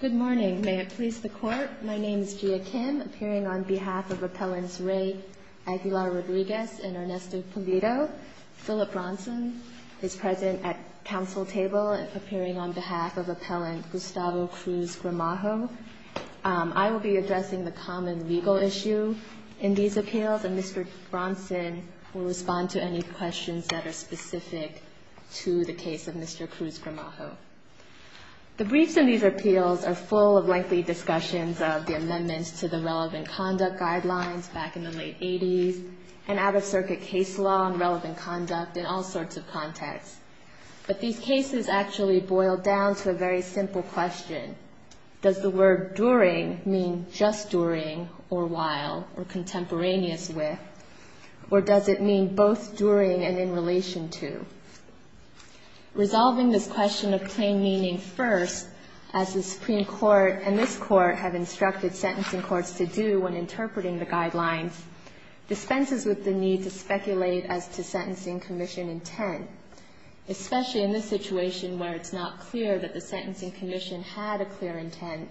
Good morning. May it please the Court. My name is Gia Kim, appearing on behalf of Appellants Ray Aguilar-Rodriguez and Ernesto Pulido. Philip Bronson is present at Council Table, appearing on behalf of Appellant Gustavo Cruz-Gramajo. I will be addressing the common legal issue in these appeals, and Mr. Bronson will respond to any questions that are specific to the case of Mr. Cruz-Gramajo. The briefs in these appeals are full of lengthy discussions of the amendments to the relevant conduct guidelines back in the late 80s, and out-of-circuit case law and relevant conduct in all sorts of contexts. But these cases actually boil down to a very simple question. Does the word during mean just during, or while, or contemporaneous with, or does it mean both during and in relation to? Resolving this question of plain meaning first, as the Supreme Court and this Court have instructed sentencing courts to do when interpreting the guidelines, dispenses with the need to speculate as to sentencing commission intent, especially in this situation where it's not clear that the sentencing commission had a clear intent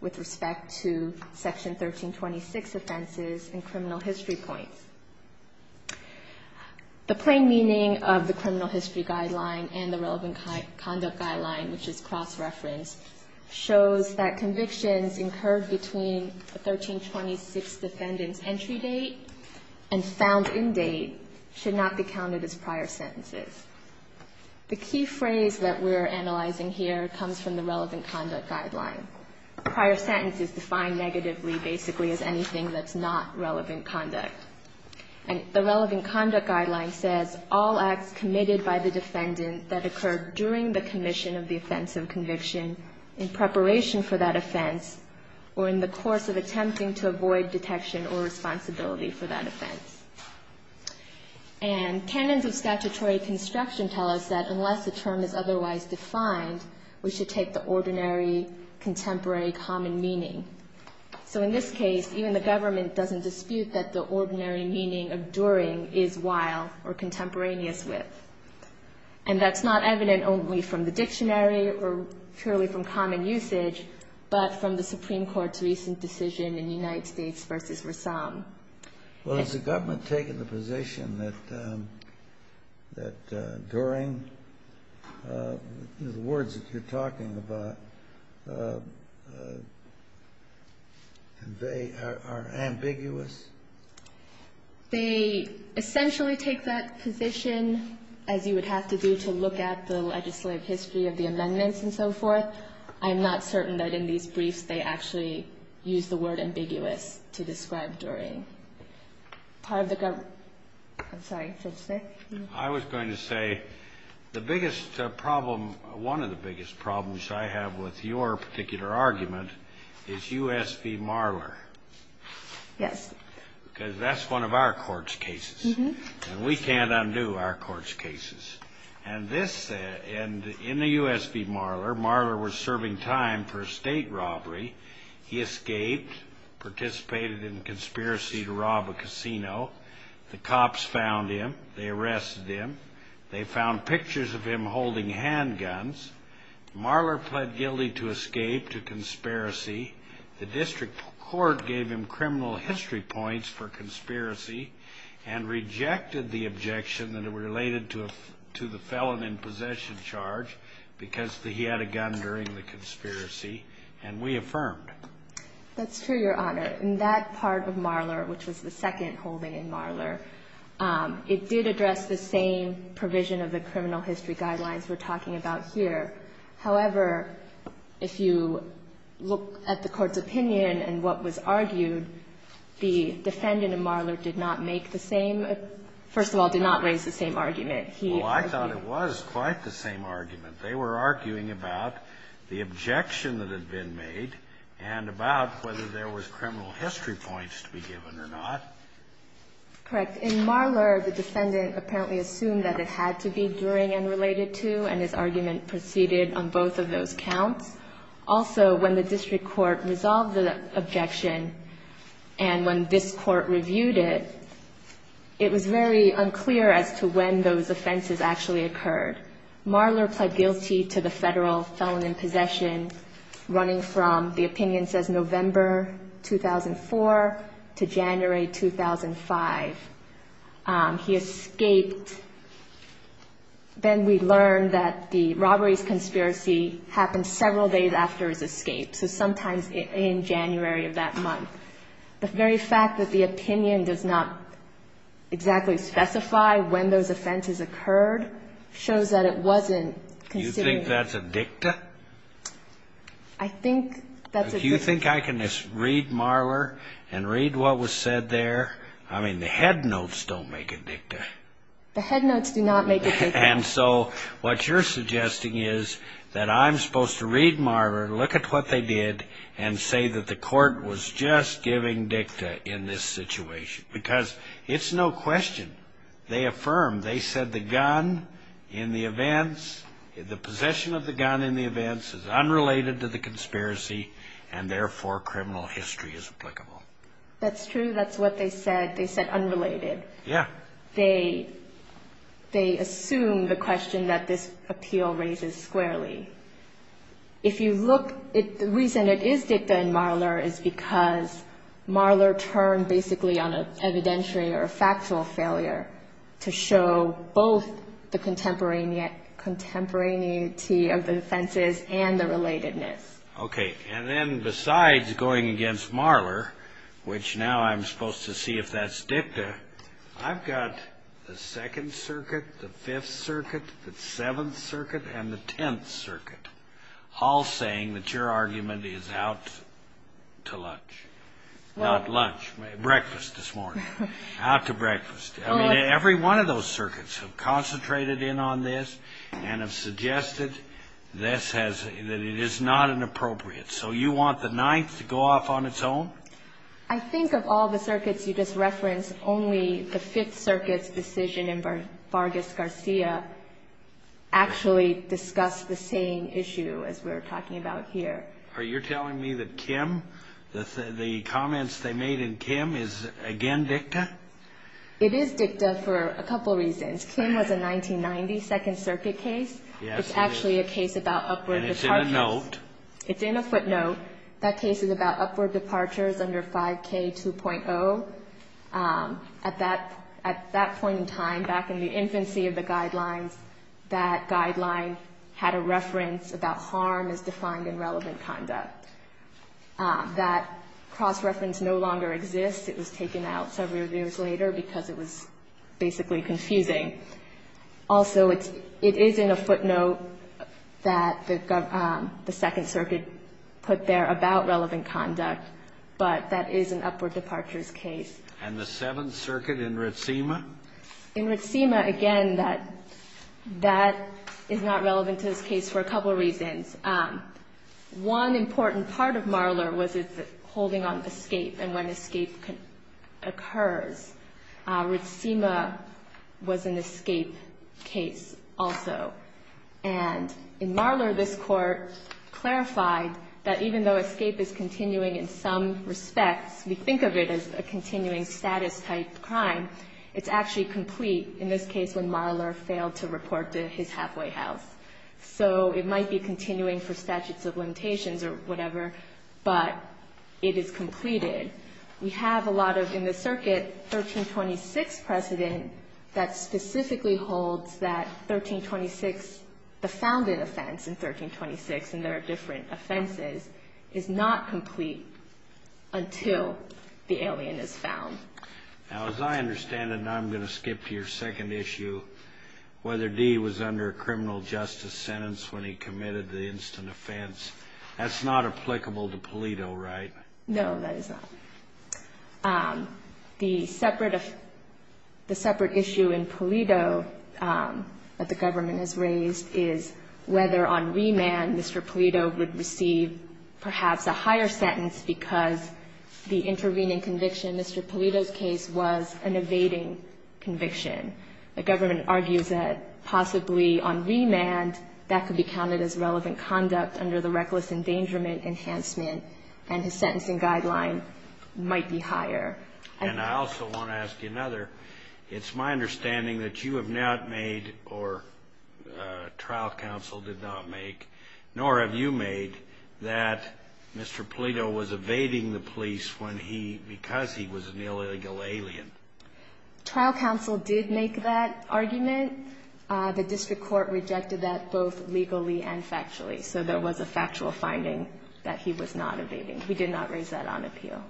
with respect to Section 1326 offenses and criminal history points. The plain meaning of the criminal history guideline and the relevant conduct guideline, which is cross-referenced, shows that convictions incurred between a 1326 defendant's entry date and found-in date should not be counted as prior sentences. The key phrase that we're analyzing here comes from the relevant conduct guideline. Prior sentence is defined negatively, basically, as anything that's not relevant conduct. And the relevant conduct guideline says, all acts committed by the defendant that occurred during the commission of the offense of conviction in preparation for that offense or in the course of attempting to avoid detection or responsibility for that offense. And canons of statutory construction tell us that unless a term is otherwise defined, we should take the ordinary contemporary common meaning. So in this case, even the government doesn't dispute that the ordinary meaning of during is while or contemporaneous with. And that's not evident only from the dictionary or purely from common usage, but from the Supreme Court's recent decision in United States v. Rassam. Well, has the government taken the position that during, the words that you're talking about, are ambiguous? They essentially take that position, as you would have to do to look at the legislative history of the amendments and so forth. I'm not certain that in these briefs, they actually use the word ambiguous to describe during. Part of the government. I'm sorry. I was going to say, the biggest problem, one of the biggest problems I have with your particular argument is U.S. v. Marler. Yes. Because that's one of our court's cases. And we can't undo our court's cases. And in the U.S. v. Marler, Marler was serving time for a state robbery. He escaped, participated in a conspiracy to rob a casino. The cops found him. They arrested him. They found pictures of him holding handguns. Marler pled guilty to escape to conspiracy. The district court gave him criminal history points for conspiracy and rejected the objection that it related to the felon in possession charge because he had a gun during the conspiracy. And we affirmed. That's true, Your Honor. In that part of Marler, which was the second holding in Marler, it did address the same provision of the criminal history guidelines we're talking about here. However, if you look at the court's opinion and what was argued, the defendant in Marler did not make the same or, first of all, did not raise the same argument. He argued. Well, I thought it was quite the same argument. They were arguing about the objection that had been made and about whether there was criminal history points to be given or not. Correct. In Marler, the defendant apparently assumed that it had to be during and related to, and his argument proceeded on both of those counts. Also, when the district court resolved the objection and when this court reviewed it, it was very unclear as to when those offenses actually occurred. Marler pled guilty to the Federal felon in possession running from, the opinion says, November 2004 to January 2005. He escaped. Then we learned that the robberies conspiracy happened several days after his escape, so sometimes in January of that month. The very fact that the opinion does not exactly specify when those offenses occurred shows that it wasn't considered. You think that's a dicta? I think that's a dicta. Do you think I can just read Marler and read what was said there? I mean, the head notes don't make a dicta. The head notes do not make a dicta. And so what you're suggesting is that I'm supposed to read Marler, look at what they did, and say that the court was just giving dicta in this situation because it's no question. They affirmed. They said the gun in the events, the possession of the gun in the events is unrelated to the conspiracy, and therefore criminal history is applicable. That's true. That's what they said. They said unrelated. Yeah. They assumed the question that this appeal raises squarely. The reason it is dicta in Marler is because Marler turned basically on an evidentiary or a factual failure to show both the contemporaneity of the offenses and the relatedness. Okay. And then besides going against Marler, which now I'm supposed to see if that's dicta, I've got the Second Circuit, the Fifth Circuit, the Seventh Circuit, and the Tenth Circuit all saying that your argument is out to lunch. Not lunch, breakfast this morning. Out to breakfast. I mean, every one of those circuits have concentrated in on this and have suggested that it is not inappropriate. So you want the Ninth to go off on its own? I think of all the circuits you just referenced, only the Fifth Circuit's decision in Vargas-Garcia actually discussed the same issue as we're talking about here. Are you telling me that Kim, the comments they made in Kim, is again dicta? It is dicta for a couple reasons. Kim was a 1990 Second Circuit case. Yes, he is. It's actually a case about upward departures. And it's in a note. It's in a footnote. That case is about upward departures under 5K2.0. At that point in time, back in the infancy of the Guidelines, that Guideline had a reference about harm as defined in relevant conduct. That cross-reference no longer exists. It was taken out several years later because it was basically confusing. Also, it is in a footnote that the Second Circuit put there about relevant conduct, but that is an upward departures case. And the Seventh Circuit in Ritzima? In Ritzima, again, that is not relevant to this case for a couple reasons. One important part of Marler was its holding on escape and when escape occurs. Ritzima was an escape case also. And in Marler, this Court clarified that even though escape is continuing in some respects, we think of it as a continuing status type crime, it's actually complete in this case when Marler failed to report to his halfway house. So it might be continuing for statutes of limitations or whatever, but it is completed. We have a lot of, in the Circuit, 1326 precedent that specifically holds that 1326, the founded offense in 1326, and there are different offenses, is not complete until the alien is found. Now, as I understand it, and I'm going to skip to your second issue, whether Dee was under a criminal justice sentence when he committed the instant offense, that's not applicable to Palito, right? No, that is not. The separate issue in Palito that the government has raised is whether on remand Mr. Palito would receive perhaps a higher sentence because the intervening conviction in Mr. Palito's case was an evading conviction. The government argues that possibly on remand that could be counted as relevant and his sentencing guideline might be higher. And I also want to ask you another. It's my understanding that you have not made, or trial counsel did not make, nor have you made that Mr. Palito was evading the police when he, because he was an illegal alien. Trial counsel did make that argument. The district court rejected that both legally and factually. So there was a factual finding that he was not evading. He did not raise that on appeal.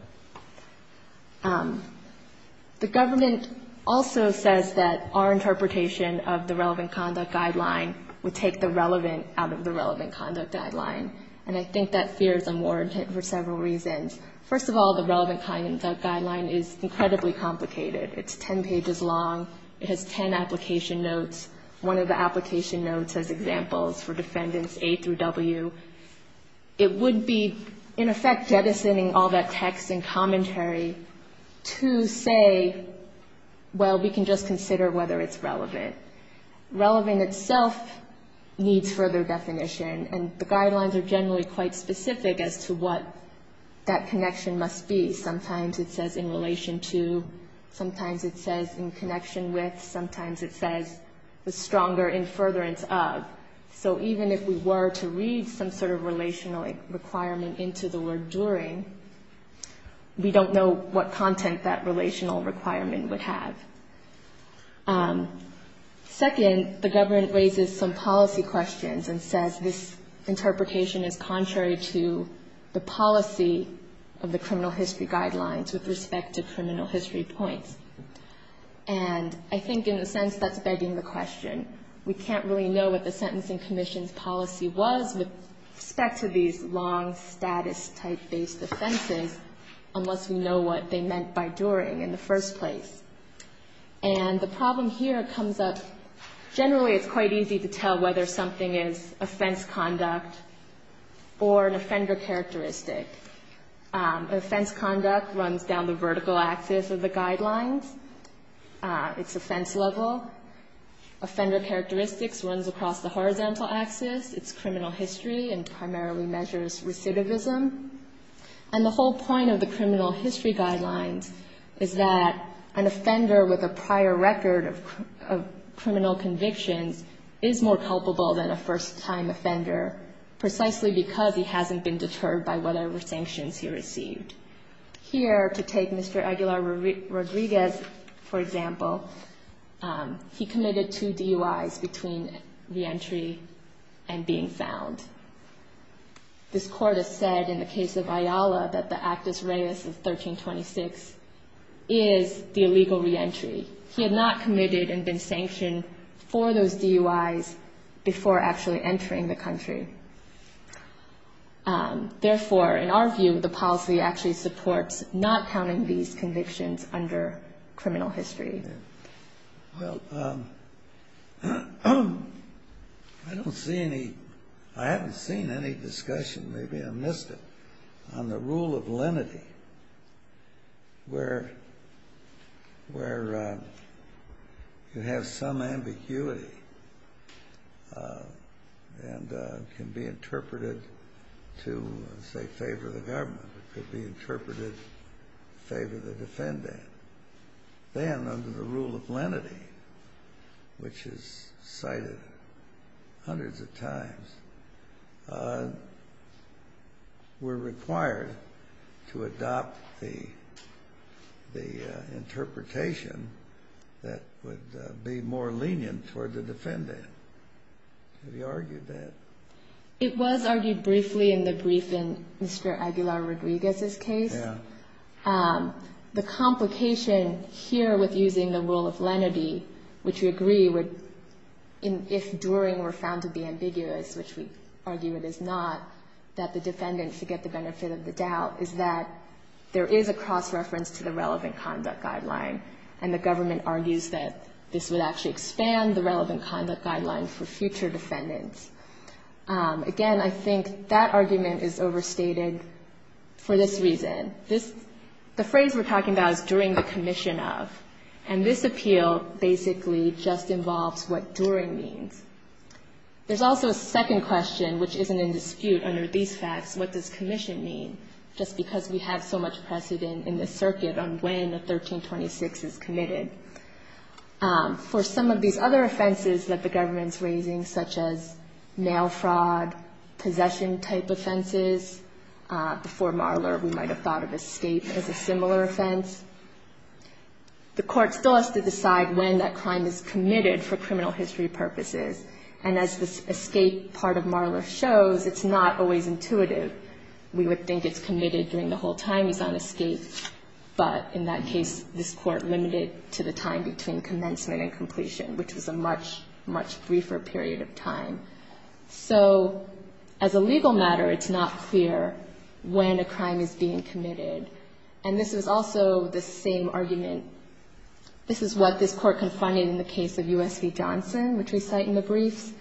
The government also says that our interpretation of the relevant conduct guideline would take the relevant out of the relevant conduct guideline. And I think that fear is unwarranted for several reasons. First of all, the relevant conduct guideline is incredibly complicated. It's 10 pages long. It has 10 application notes. One of the application notes has examples for defendants A through W. It would be in effect jettisoning all that text and commentary to say, well, we can just consider whether it's relevant. Relevant itself needs further definition, and the guidelines are generally quite specific as to what that connection must be. Sometimes it says in relation to, sometimes it says in connection with, sometimes it says the stronger in furtherance of. So even if we were to read some sort of relational requirement into the word during, we don't know what content that relational requirement would have. Second, the government raises some policy questions and says this interpretation is contrary to the policy of the criminal history guidelines with respect to criminal history points. And I think in a sense that's begging the question. We can't really know what the Sentencing Commission's policy was with respect to these long status type-based offenses unless we know what they meant by during in the first place. And the problem here comes up, generally it's quite easy to tell whether something is offense conduct or an offender characteristic. Offense conduct runs down the vertical axis of the guidelines. It's offense level. Offender characteristics runs across the horizontal axis. It's criminal history and primarily measures recidivism. And the whole point of the criminal history guidelines is that an offender with a prior record of criminal convictions is more culpable than a first-time offender, precisely because he hasn't been deterred by whatever sanctions he received. Here, to take Mr. Aguilar-Rodriguez, for example, he committed two DUIs between reentry and being found. This court has said in the case of Ayala that the Actus Reis of 1326 is the illegal reentry. He had not committed and been sanctioned for those DUIs before actually entering the country. Therefore, in our view, the policy actually supports not counting these convictions under criminal history. Well, I don't see any, I haven't seen any discussion, maybe I missed it, on the rule of lenity, where you have some ambiguity. And it can be interpreted to, say, favor the government. It could be interpreted to favor the defendant. Then, under the rule of lenity, which is cited hundreds of times, we're required to adopt the interpretation that would be more lenient toward the defendant. Have you argued that? It was argued briefly in the brief in Mr. Aguilar-Rodriguez's case. Yeah. The complication here with using the rule of lenity, which we agree would, if during were found to be ambiguous, which we argue it is not, that the defendant could get the benefit of the doubt, is that there is a cross-reference to the relevant conduct guideline for future defendants. Again, I think that argument is overstated for this reason. The phrase we're talking about is during the commission of. And this appeal basically just involves what during means. There's also a second question, which isn't in dispute under these facts. What does commission mean? Just because we have so much precedent in this circuit on when a 1326 is committed. For some of these other offenses that the government's raising, such as mail fraud, possession-type offenses, before Marler, we might have thought of escape as a similar offense. The Court still has to decide when that crime is committed for criminal history purposes. And as the escape part of Marler shows, it's not always intuitive. We would think it's committed during the whole time he's on escape. But in that case, this Court limited to the time between commencement and completion, which was a much, much briefer period of time. So as a legal matter, it's not clear when a crime is being committed. And this is also the same argument. This is what this Court confided in the case of U.S. v. Johnson, which we cite in the briefs.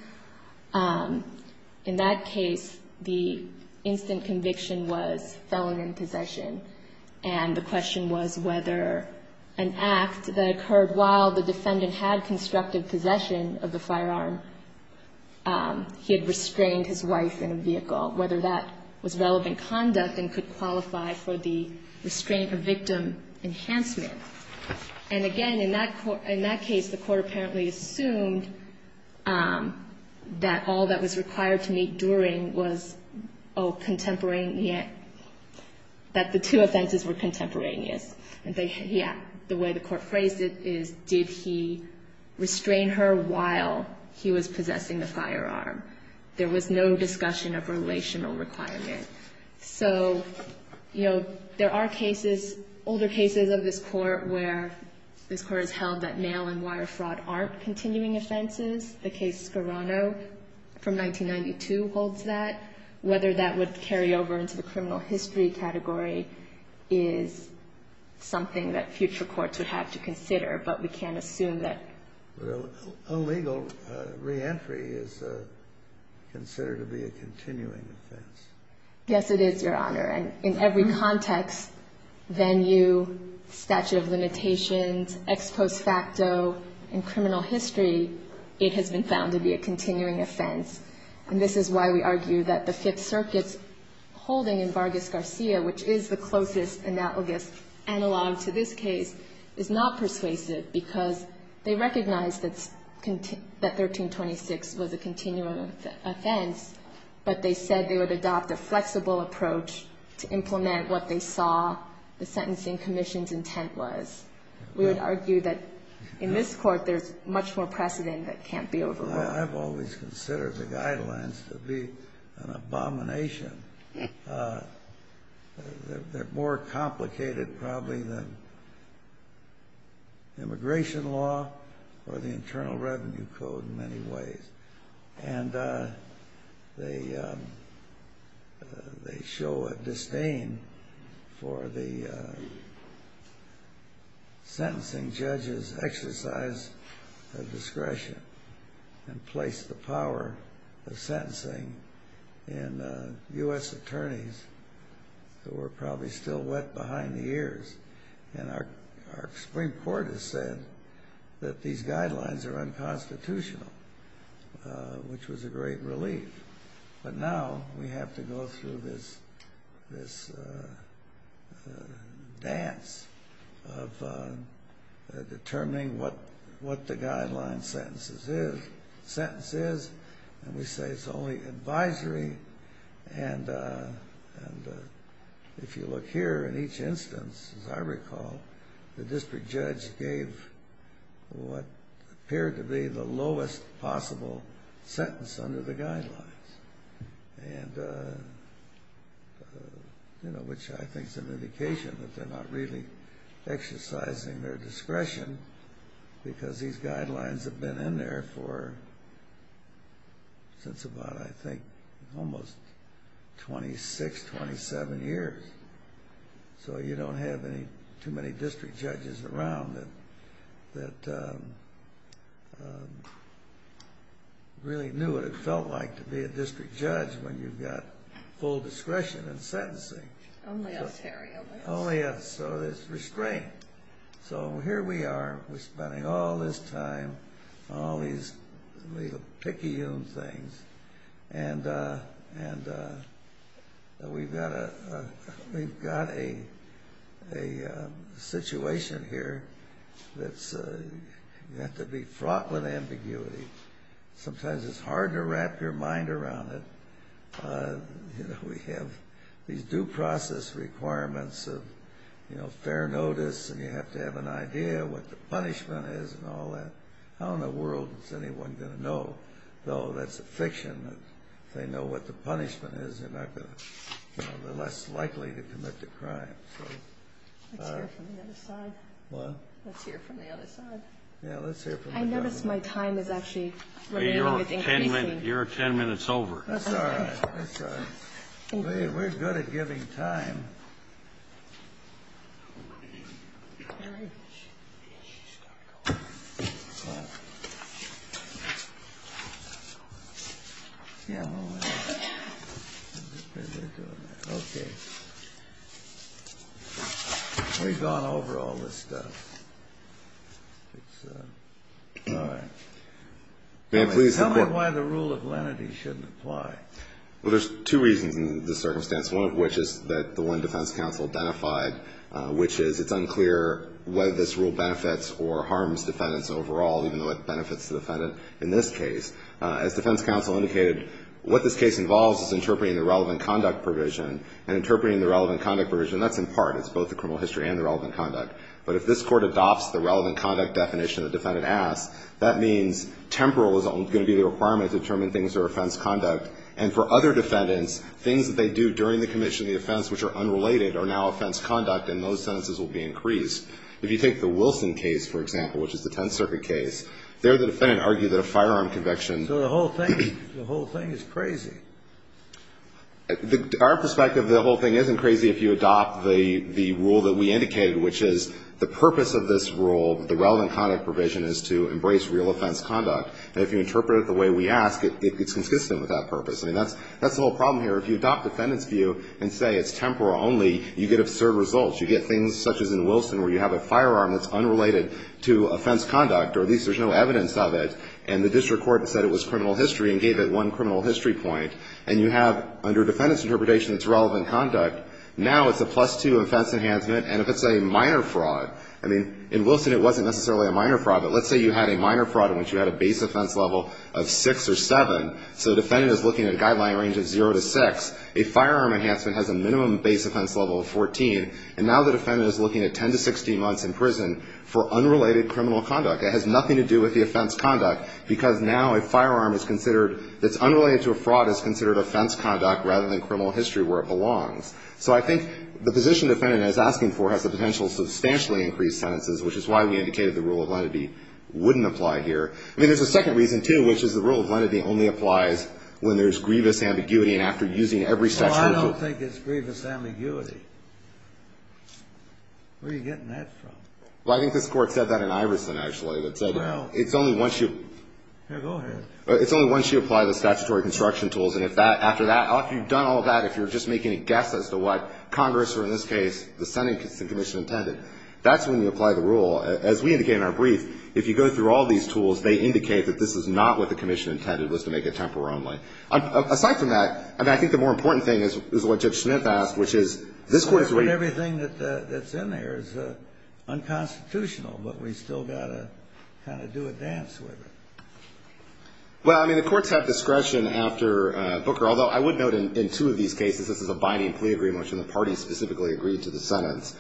In that case, the instant conviction was felon in possession. And the question was whether an act that occurred while the defendant had constructive possession of the firearm, he had restrained his wife in a vehicle, whether that was relevant conduct and could qualify for the restraint or victim enhancement. And again, in that case, the Court apparently assumed that all that was required to meet during was, oh, contemporaneous, that the two offenses were contemporaneous. And the way the Court phrased it is, did he restrain her while he was possessing the firearm? There was no discussion of relational requirement. So, you know, there are cases, older cases of this Court where this Court has held that mail and wire fraud aren't continuing offenses. The case Scarano from 1992 holds that. Whether that would carry over into the criminal history category is something that future courts would have to consider. But we can't assume that. Illegal reentry is considered to be a continuing offense. Yes, it is, Your Honor. And in every context, venue, statute of limitations, ex post facto, in criminal history, it has been found to be a continuing offense. And this is why we argue that the Fifth Circuit's holding in Vargas Garcia, which is the closest analogous analog to this case, is not persuasive because they recognize that 1326 was a continuing offense, but they said they would adopt a flexible approach to implement what they saw the sentencing commission's intent was. We would argue that in this Court there's much more precedent that can't be overruled. I've always considered the guidelines to be an abomination. They're more complicated, probably, than immigration law. Or the Internal Revenue Code, in many ways. And they show a disdain for the sentencing judge's exercise of discretion and place the power of sentencing in U.S. attorneys who are probably still wet behind the ears. And our Supreme Court has said that these guidelines are unconstitutional, which was a great relief. But now we have to go through this dance of determining what the guideline sentence is. The sentence is, and we say it's only advisory. And if you look here, in each instance, as I recall, the district judge gave what appeared to be the lowest possible sentence under the guidelines, which I think is an indication that they're not really exercising their discretion because these guidelines have been in there for, since about, I think, almost 26, 27 years. So you don't have too many district judges around that really knew what it felt like to be a district judge when you've got full discretion in sentencing. Oh, yes, so there's restraint. So here we are, we're spending all this time on all these little picky things, and we've got a situation here that's got to be fraught with ambiguity. Sometimes it's hard to wrap your mind around it. We have these due process requirements of fair notice, and you have to have an idea what the punishment is and all that. How in the world is anyone going to know, though that's a fiction, that if they know what the punishment is, they're less likely to commit the crime. Let's hear from the other side. I notice my time is actually increasing. Your 10 minutes over. That's all right. We're good at giving time. We've gone over all this stuff. Tell me why the rule of lenity shouldn't apply. Well, there's two reasons in this circumstance, one of which is that the one defense counsel identified, which is it's unclear whether this rule benefits or harms defendants overall, even though it benefits the defendant in this case. As defense counsel indicated, what this case involves is interpreting the relevant conduct provision and interpreting the relevant conduct provision, that's in part. It's both the criminal history and the relevant conduct, but if this court adopts the relevant conduct definition the defendant asks, that means temporal is going to be the requirement to determine things that are offense conduct and for other defendants, things that they do during the commission of the offense which are unrelated are now offense conduct and those sentences will be increased. If you take the Wilson case, for example, which is the 10th Circuit case, there the defendant argued that a firearm conviction. So the whole thing, the whole thing is crazy. Our perspective, the whole thing isn't crazy if you adopt the rule that we indicated, which is the purpose of this rule, the relevant conduct provision is to embrace real offense conduct. And if you interpret it the way we ask, it's consistent with that purpose. I mean, that's the whole problem here. If you adopt defendant's view and say it's temporal only, you get absurd results. You get things such as in Wilson where you have a firearm that's unrelated to offense conduct, or at least there's no evidence of it, and the district court said it was criminal history and gave it one criminal history point. And you have, under defendant's interpretation, it's relevant conduct. Now it's a plus-two offense enhancement. And if it's a minor fraud, I mean, in Wilson it wasn't necessarily a minor fraud, but let's say you had a minor fraud in which you had a base offense level of 6 or 7, so the defendant is looking at a guideline range of 0 to 6. A firearm enhancement has a minimum base offense level of 14. And now the defendant is looking at 10 to 16 months in prison for unrelated criminal conduct. It has nothing to do with the offense conduct because now a firearm is considered, that's unrelated to a fraud, is considered offense conduct rather than criminal history where it belongs. So I think the position the defendant is asking for has the potential to substantially increase sentences, which is why we indicated the rule of lenity wouldn't apply here. I mean, there's a second reason, too, which is the rule of lenity only applies when there's grievous ambiguity and after using every statutory tool. Well, I don't think it's grievous ambiguity. Where are you getting that from? Well, I think this Court said that in Iverson, actually. It said it's only once you apply the statutory construction tools. And after that, after you've done all that, if you're just making a guess as to what Congress or, in this case, the Senate commission intended, that's when you apply the rule. As we indicated in our brief, if you go through all these tools, they indicate that this is not what the commission intended, was to make it temporal only. Aside from that, I mean, I think the more important thing is what Judge Schnitt asked, which is this Court is going to Everything that's in there is unconstitutional, but we've still got to kind of do a dance with it. Well, I mean, the courts have discretion after Booker, although I would note in two of these cases, this is a binding plea agreement, which the parties specifically agreed to the sentence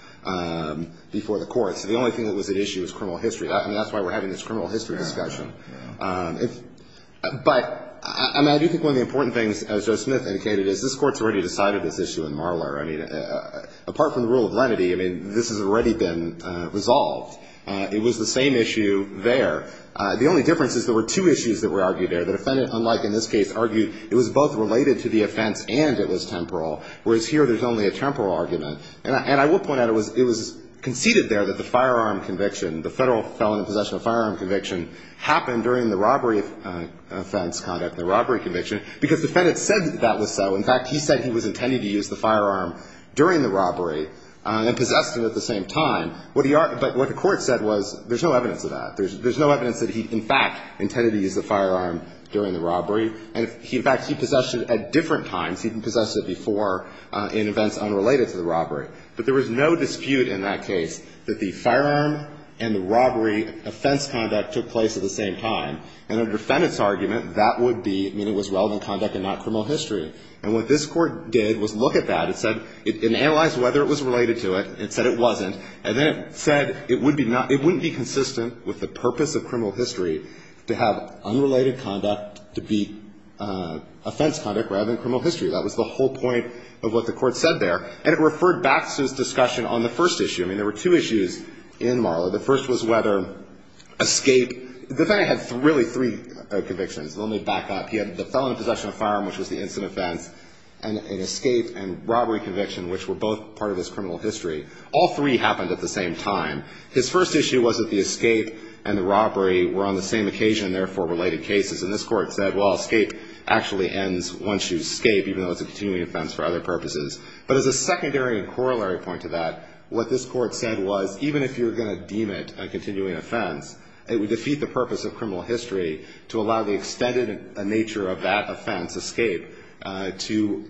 before the courts. So the only thing that was at issue was criminal history. I mean, that's why we're having this criminal history discussion. But, I mean, I do think one of the important things, as Judge Smith indicated, is this Court's already decided this issue in Marler. I mean, apart from the rule of lenity, I mean, this has already been resolved. It was the same issue there. The only difference is there were two issues that were argued there. The defendant, unlike in this case, argued it was both related to the offense and it was temporal, whereas here there's only a temporal argument. And I will point out it was conceded there that the firearm conviction, the federal felon in possession of a firearm conviction, happened during the robbery offense conduct, the robbery conviction, because the defendant said that was so. In fact, he said he was intending to use the firearm during the robbery and possessed him at the same time. But what the Court said was there's no evidence of that. There's no evidence that he, in fact, intended to use the firearm during the robbery. And, in fact, he possessed it at different times. He possessed it before in events unrelated to the robbery. But there was no dispute in that case that the firearm and the robbery offense conduct took place at the same time. And the defendant's argument, that would be that it was relevant conduct and not criminal history. And what this Court did was look at that. It said it analyzed whether it was related to it. It said it wasn't. And then it said it wouldn't be consistent with the purpose of criminal history to have unrelated conduct to be offense conduct rather than criminal history. That was the whole point of what the Court said there. And it referred back to this discussion on the first issue. I mean, there were two issues in Marla. The first was whether escape. The defendant had really three convictions. Let me back up. He had the felon in possession of a firearm, which was the incident offense, and an escape and robbery conviction, which were both part of his criminal history. All three happened at the same time. His first issue was that the escape and the robbery were on the same occasion, and therefore related cases. And this Court said, well, escape actually ends once you escape, even though it's a continuing offense for other purposes. But as a secondary and corollary point to that, what this Court said was, even if you're going to deem it a continuing offense, it would defeat the purpose of criminal history to allow the extended nature of that offense, escape, to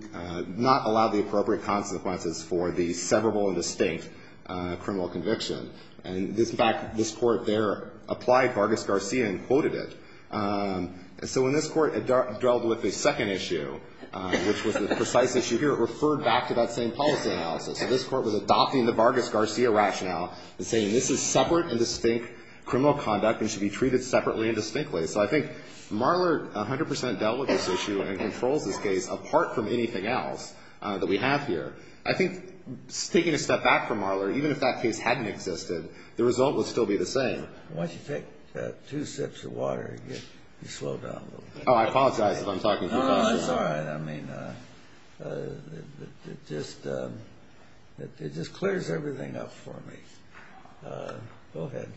not allow the appropriate consequences for the severable and distinct criminal conviction. And, in fact, this Court there applied Vargas-Garcia and quoted it. So when this Court dealt with the second issue, which was the precise issue here, it referred back to that same policy analysis. So this Court was adopting the Vargas-Garcia rationale and saying, this is separate and distinct criminal conduct and should be treated separately and distinctly. So I think Marler 100 percent dealt with this issue and controls this case apart from anything else that we have here. I think taking a step back from Marler, even if that case hadn't existed, the result would still be the same. Why don't you take two sips of water and slow down a little bit. Oh, I apologize if I'm talking too fast. No, that's all right. I mean, it just clears everything up for me. Go ahead.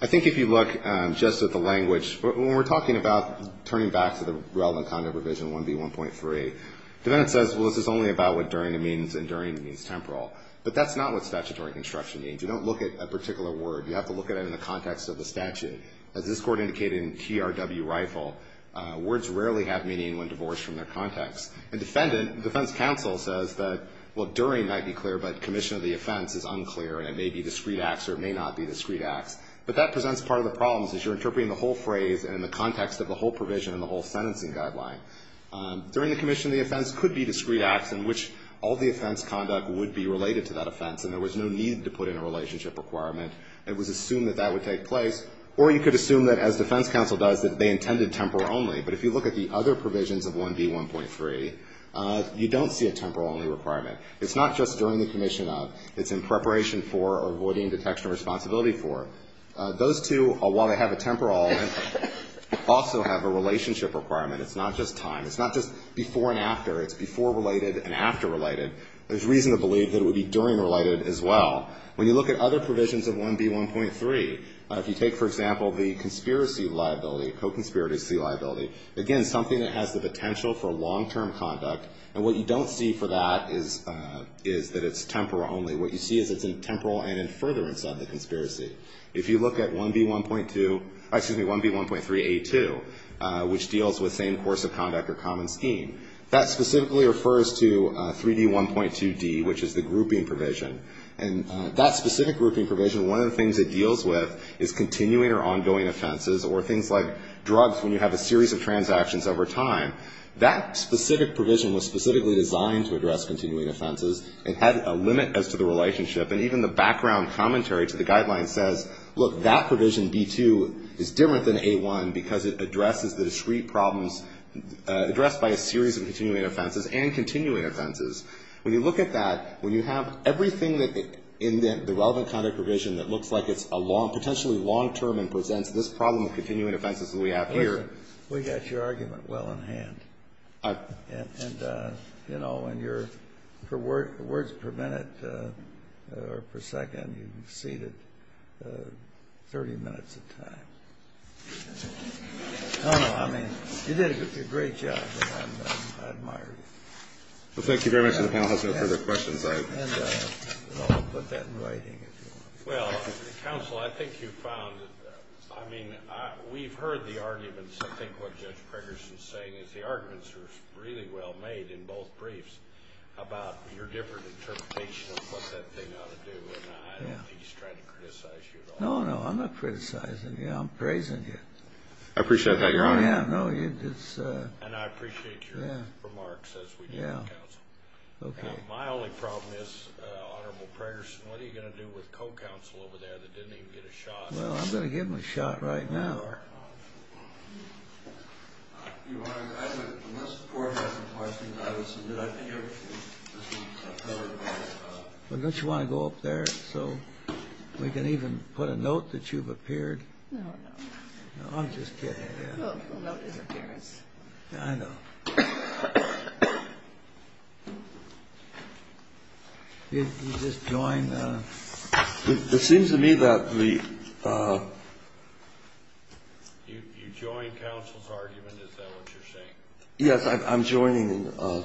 I think if you look just at the language, when we're talking about turning back to the relevant conduct revision 1B1.3, the defendant says, well, this is only about what during means and during means temporal. But that's not what statutory construction means. You don't look at a particular word. You have to look at it in the context of the statute. As this Court indicated in TRW Rifle, words rarely have meaning when divorced from their context. And the defense counsel says that, well, during might be clear, but commission of the offense is unclear and it may be discrete acts or it may not be discrete acts. But that presents part of the problems, as you're interpreting the whole phrase and the context of the whole provision and the whole sentencing guideline. During the commission of the offense could be discrete acts in which all the offense conduct would be related to that offense and there was no need to put in a relationship requirement. It was assumed that that would take place. Or you could assume that, as defense counsel does, that they intended temporal only. But if you look at the other provisions of 1B1.3, you don't see a temporal only requirement. It's not just during the commission of. It's in preparation for or avoiding detection responsibility for. Those two, while they have a temporal, also have a relationship requirement. It's not just time. It's not just before and after. It's before related and after related. There's reason to believe that it would be during related as well. When you look at other provisions of 1B1.3, if you take, for example, the conspiracy liability, co-conspiracy liability, again, something that has the potential for long-term conduct, and what you don't see for that is that it's temporal only. What you see is it's in temporal and in furtherance of the conspiracy. If you look at 1B1.2, excuse me, 1B1.3A2, which deals with same course of conduct or common scheme, that specifically refers to 3D1.2D, which is the grouping provision. And that specific grouping provision, one of the things it deals with is continuing or ongoing offenses or things like drugs when you have a series of transactions over time. That specific provision was specifically designed to address continuing offenses. It had a limit as to the relationship. And even the background commentary to the guidelines says, look, that provision B2 is different than A1 because it addresses the discrete problems addressed by a series of continuing offenses and continuing offenses. When you look at that, when you have everything in the relevant conduct provision that looks like it's a long, potentially long-term and presents this problem of continuing offenses that we have here. We got your argument well in hand. And, you know, in your words per minute or per second, you've exceeded 30 minutes of time. I don't know. I mean, you did a great job. I admire you. Well, thank you very much. And the panel has no further questions. And I'll put that in writing if you want. Well, counsel, I think you found, I mean, we've heard the arguments, I think what Judge Preggerson is saying, is the arguments are really well made in both briefs about your different interpretation of what that thing ought to do. And I don't think he's trying to criticize you at all. No, no, I'm not criticizing you. I'm praising you. I appreciate that, Your Honor. And I appreciate your remarks as we do, counsel. My only problem is, Honorable Preggerson, what are you going to do with co-counsel over there that didn't even get a shot? Well, I'm going to give him a shot right now. Your Honor, unless the Court has a question, I would submit it here. Don't you want to go up there so we can even put a note that you've appeared? No, no. No, I'm just kidding. Well, the note is appears. I know. You just join the... You join counsel's argument? Is that what you're saying? Yes, I'm joining the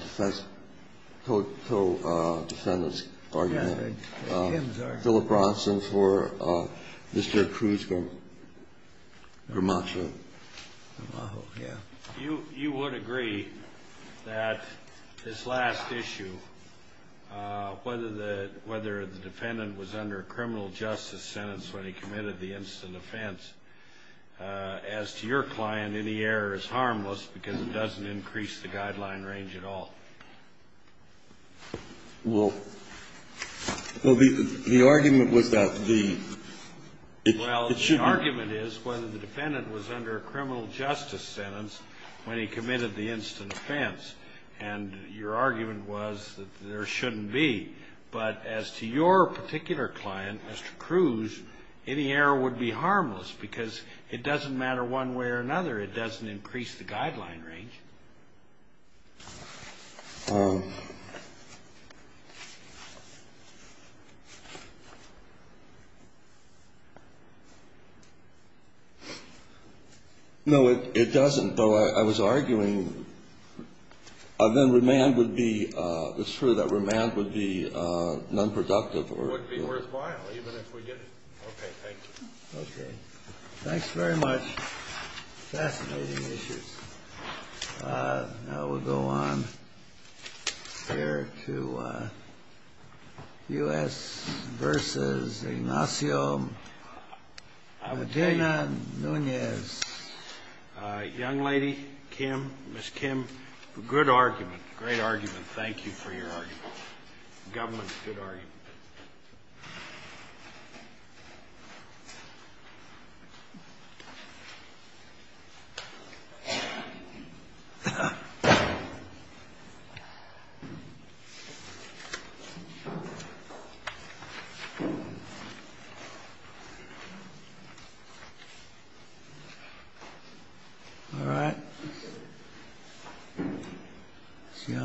co-defendant's argument. Philip Bronson for Mr. Krugman, Grimaccio. You would agree that this last issue, whether the defendant was under a criminal justice sentence when he committed the instant offense, as to your client, any error is harmless because it doesn't increase the guideline range at all. Well, the argument was that the... Well, the argument is whether the defendant was under a criminal justice sentence when he committed the instant offense. And your argument was that there shouldn't be. But as to your particular client, Mr. Cruz, any error would be harmless because it doesn't matter one way or another, it doesn't increase the guideline range. No, it doesn't. But I was arguing then remand would be... It's true that remand would be nonproductive or... It would be worthwhile, even if we get... Okay, thank you. Okay. Thanks very much. Fascinating issues. Now we'll go on here to U.S. v. Ignacio Medina-Nunez. Young lady, Kim. Ms. Kim, good argument. Great argument. Thank you for your argument. Government, good argument. All right. See you all.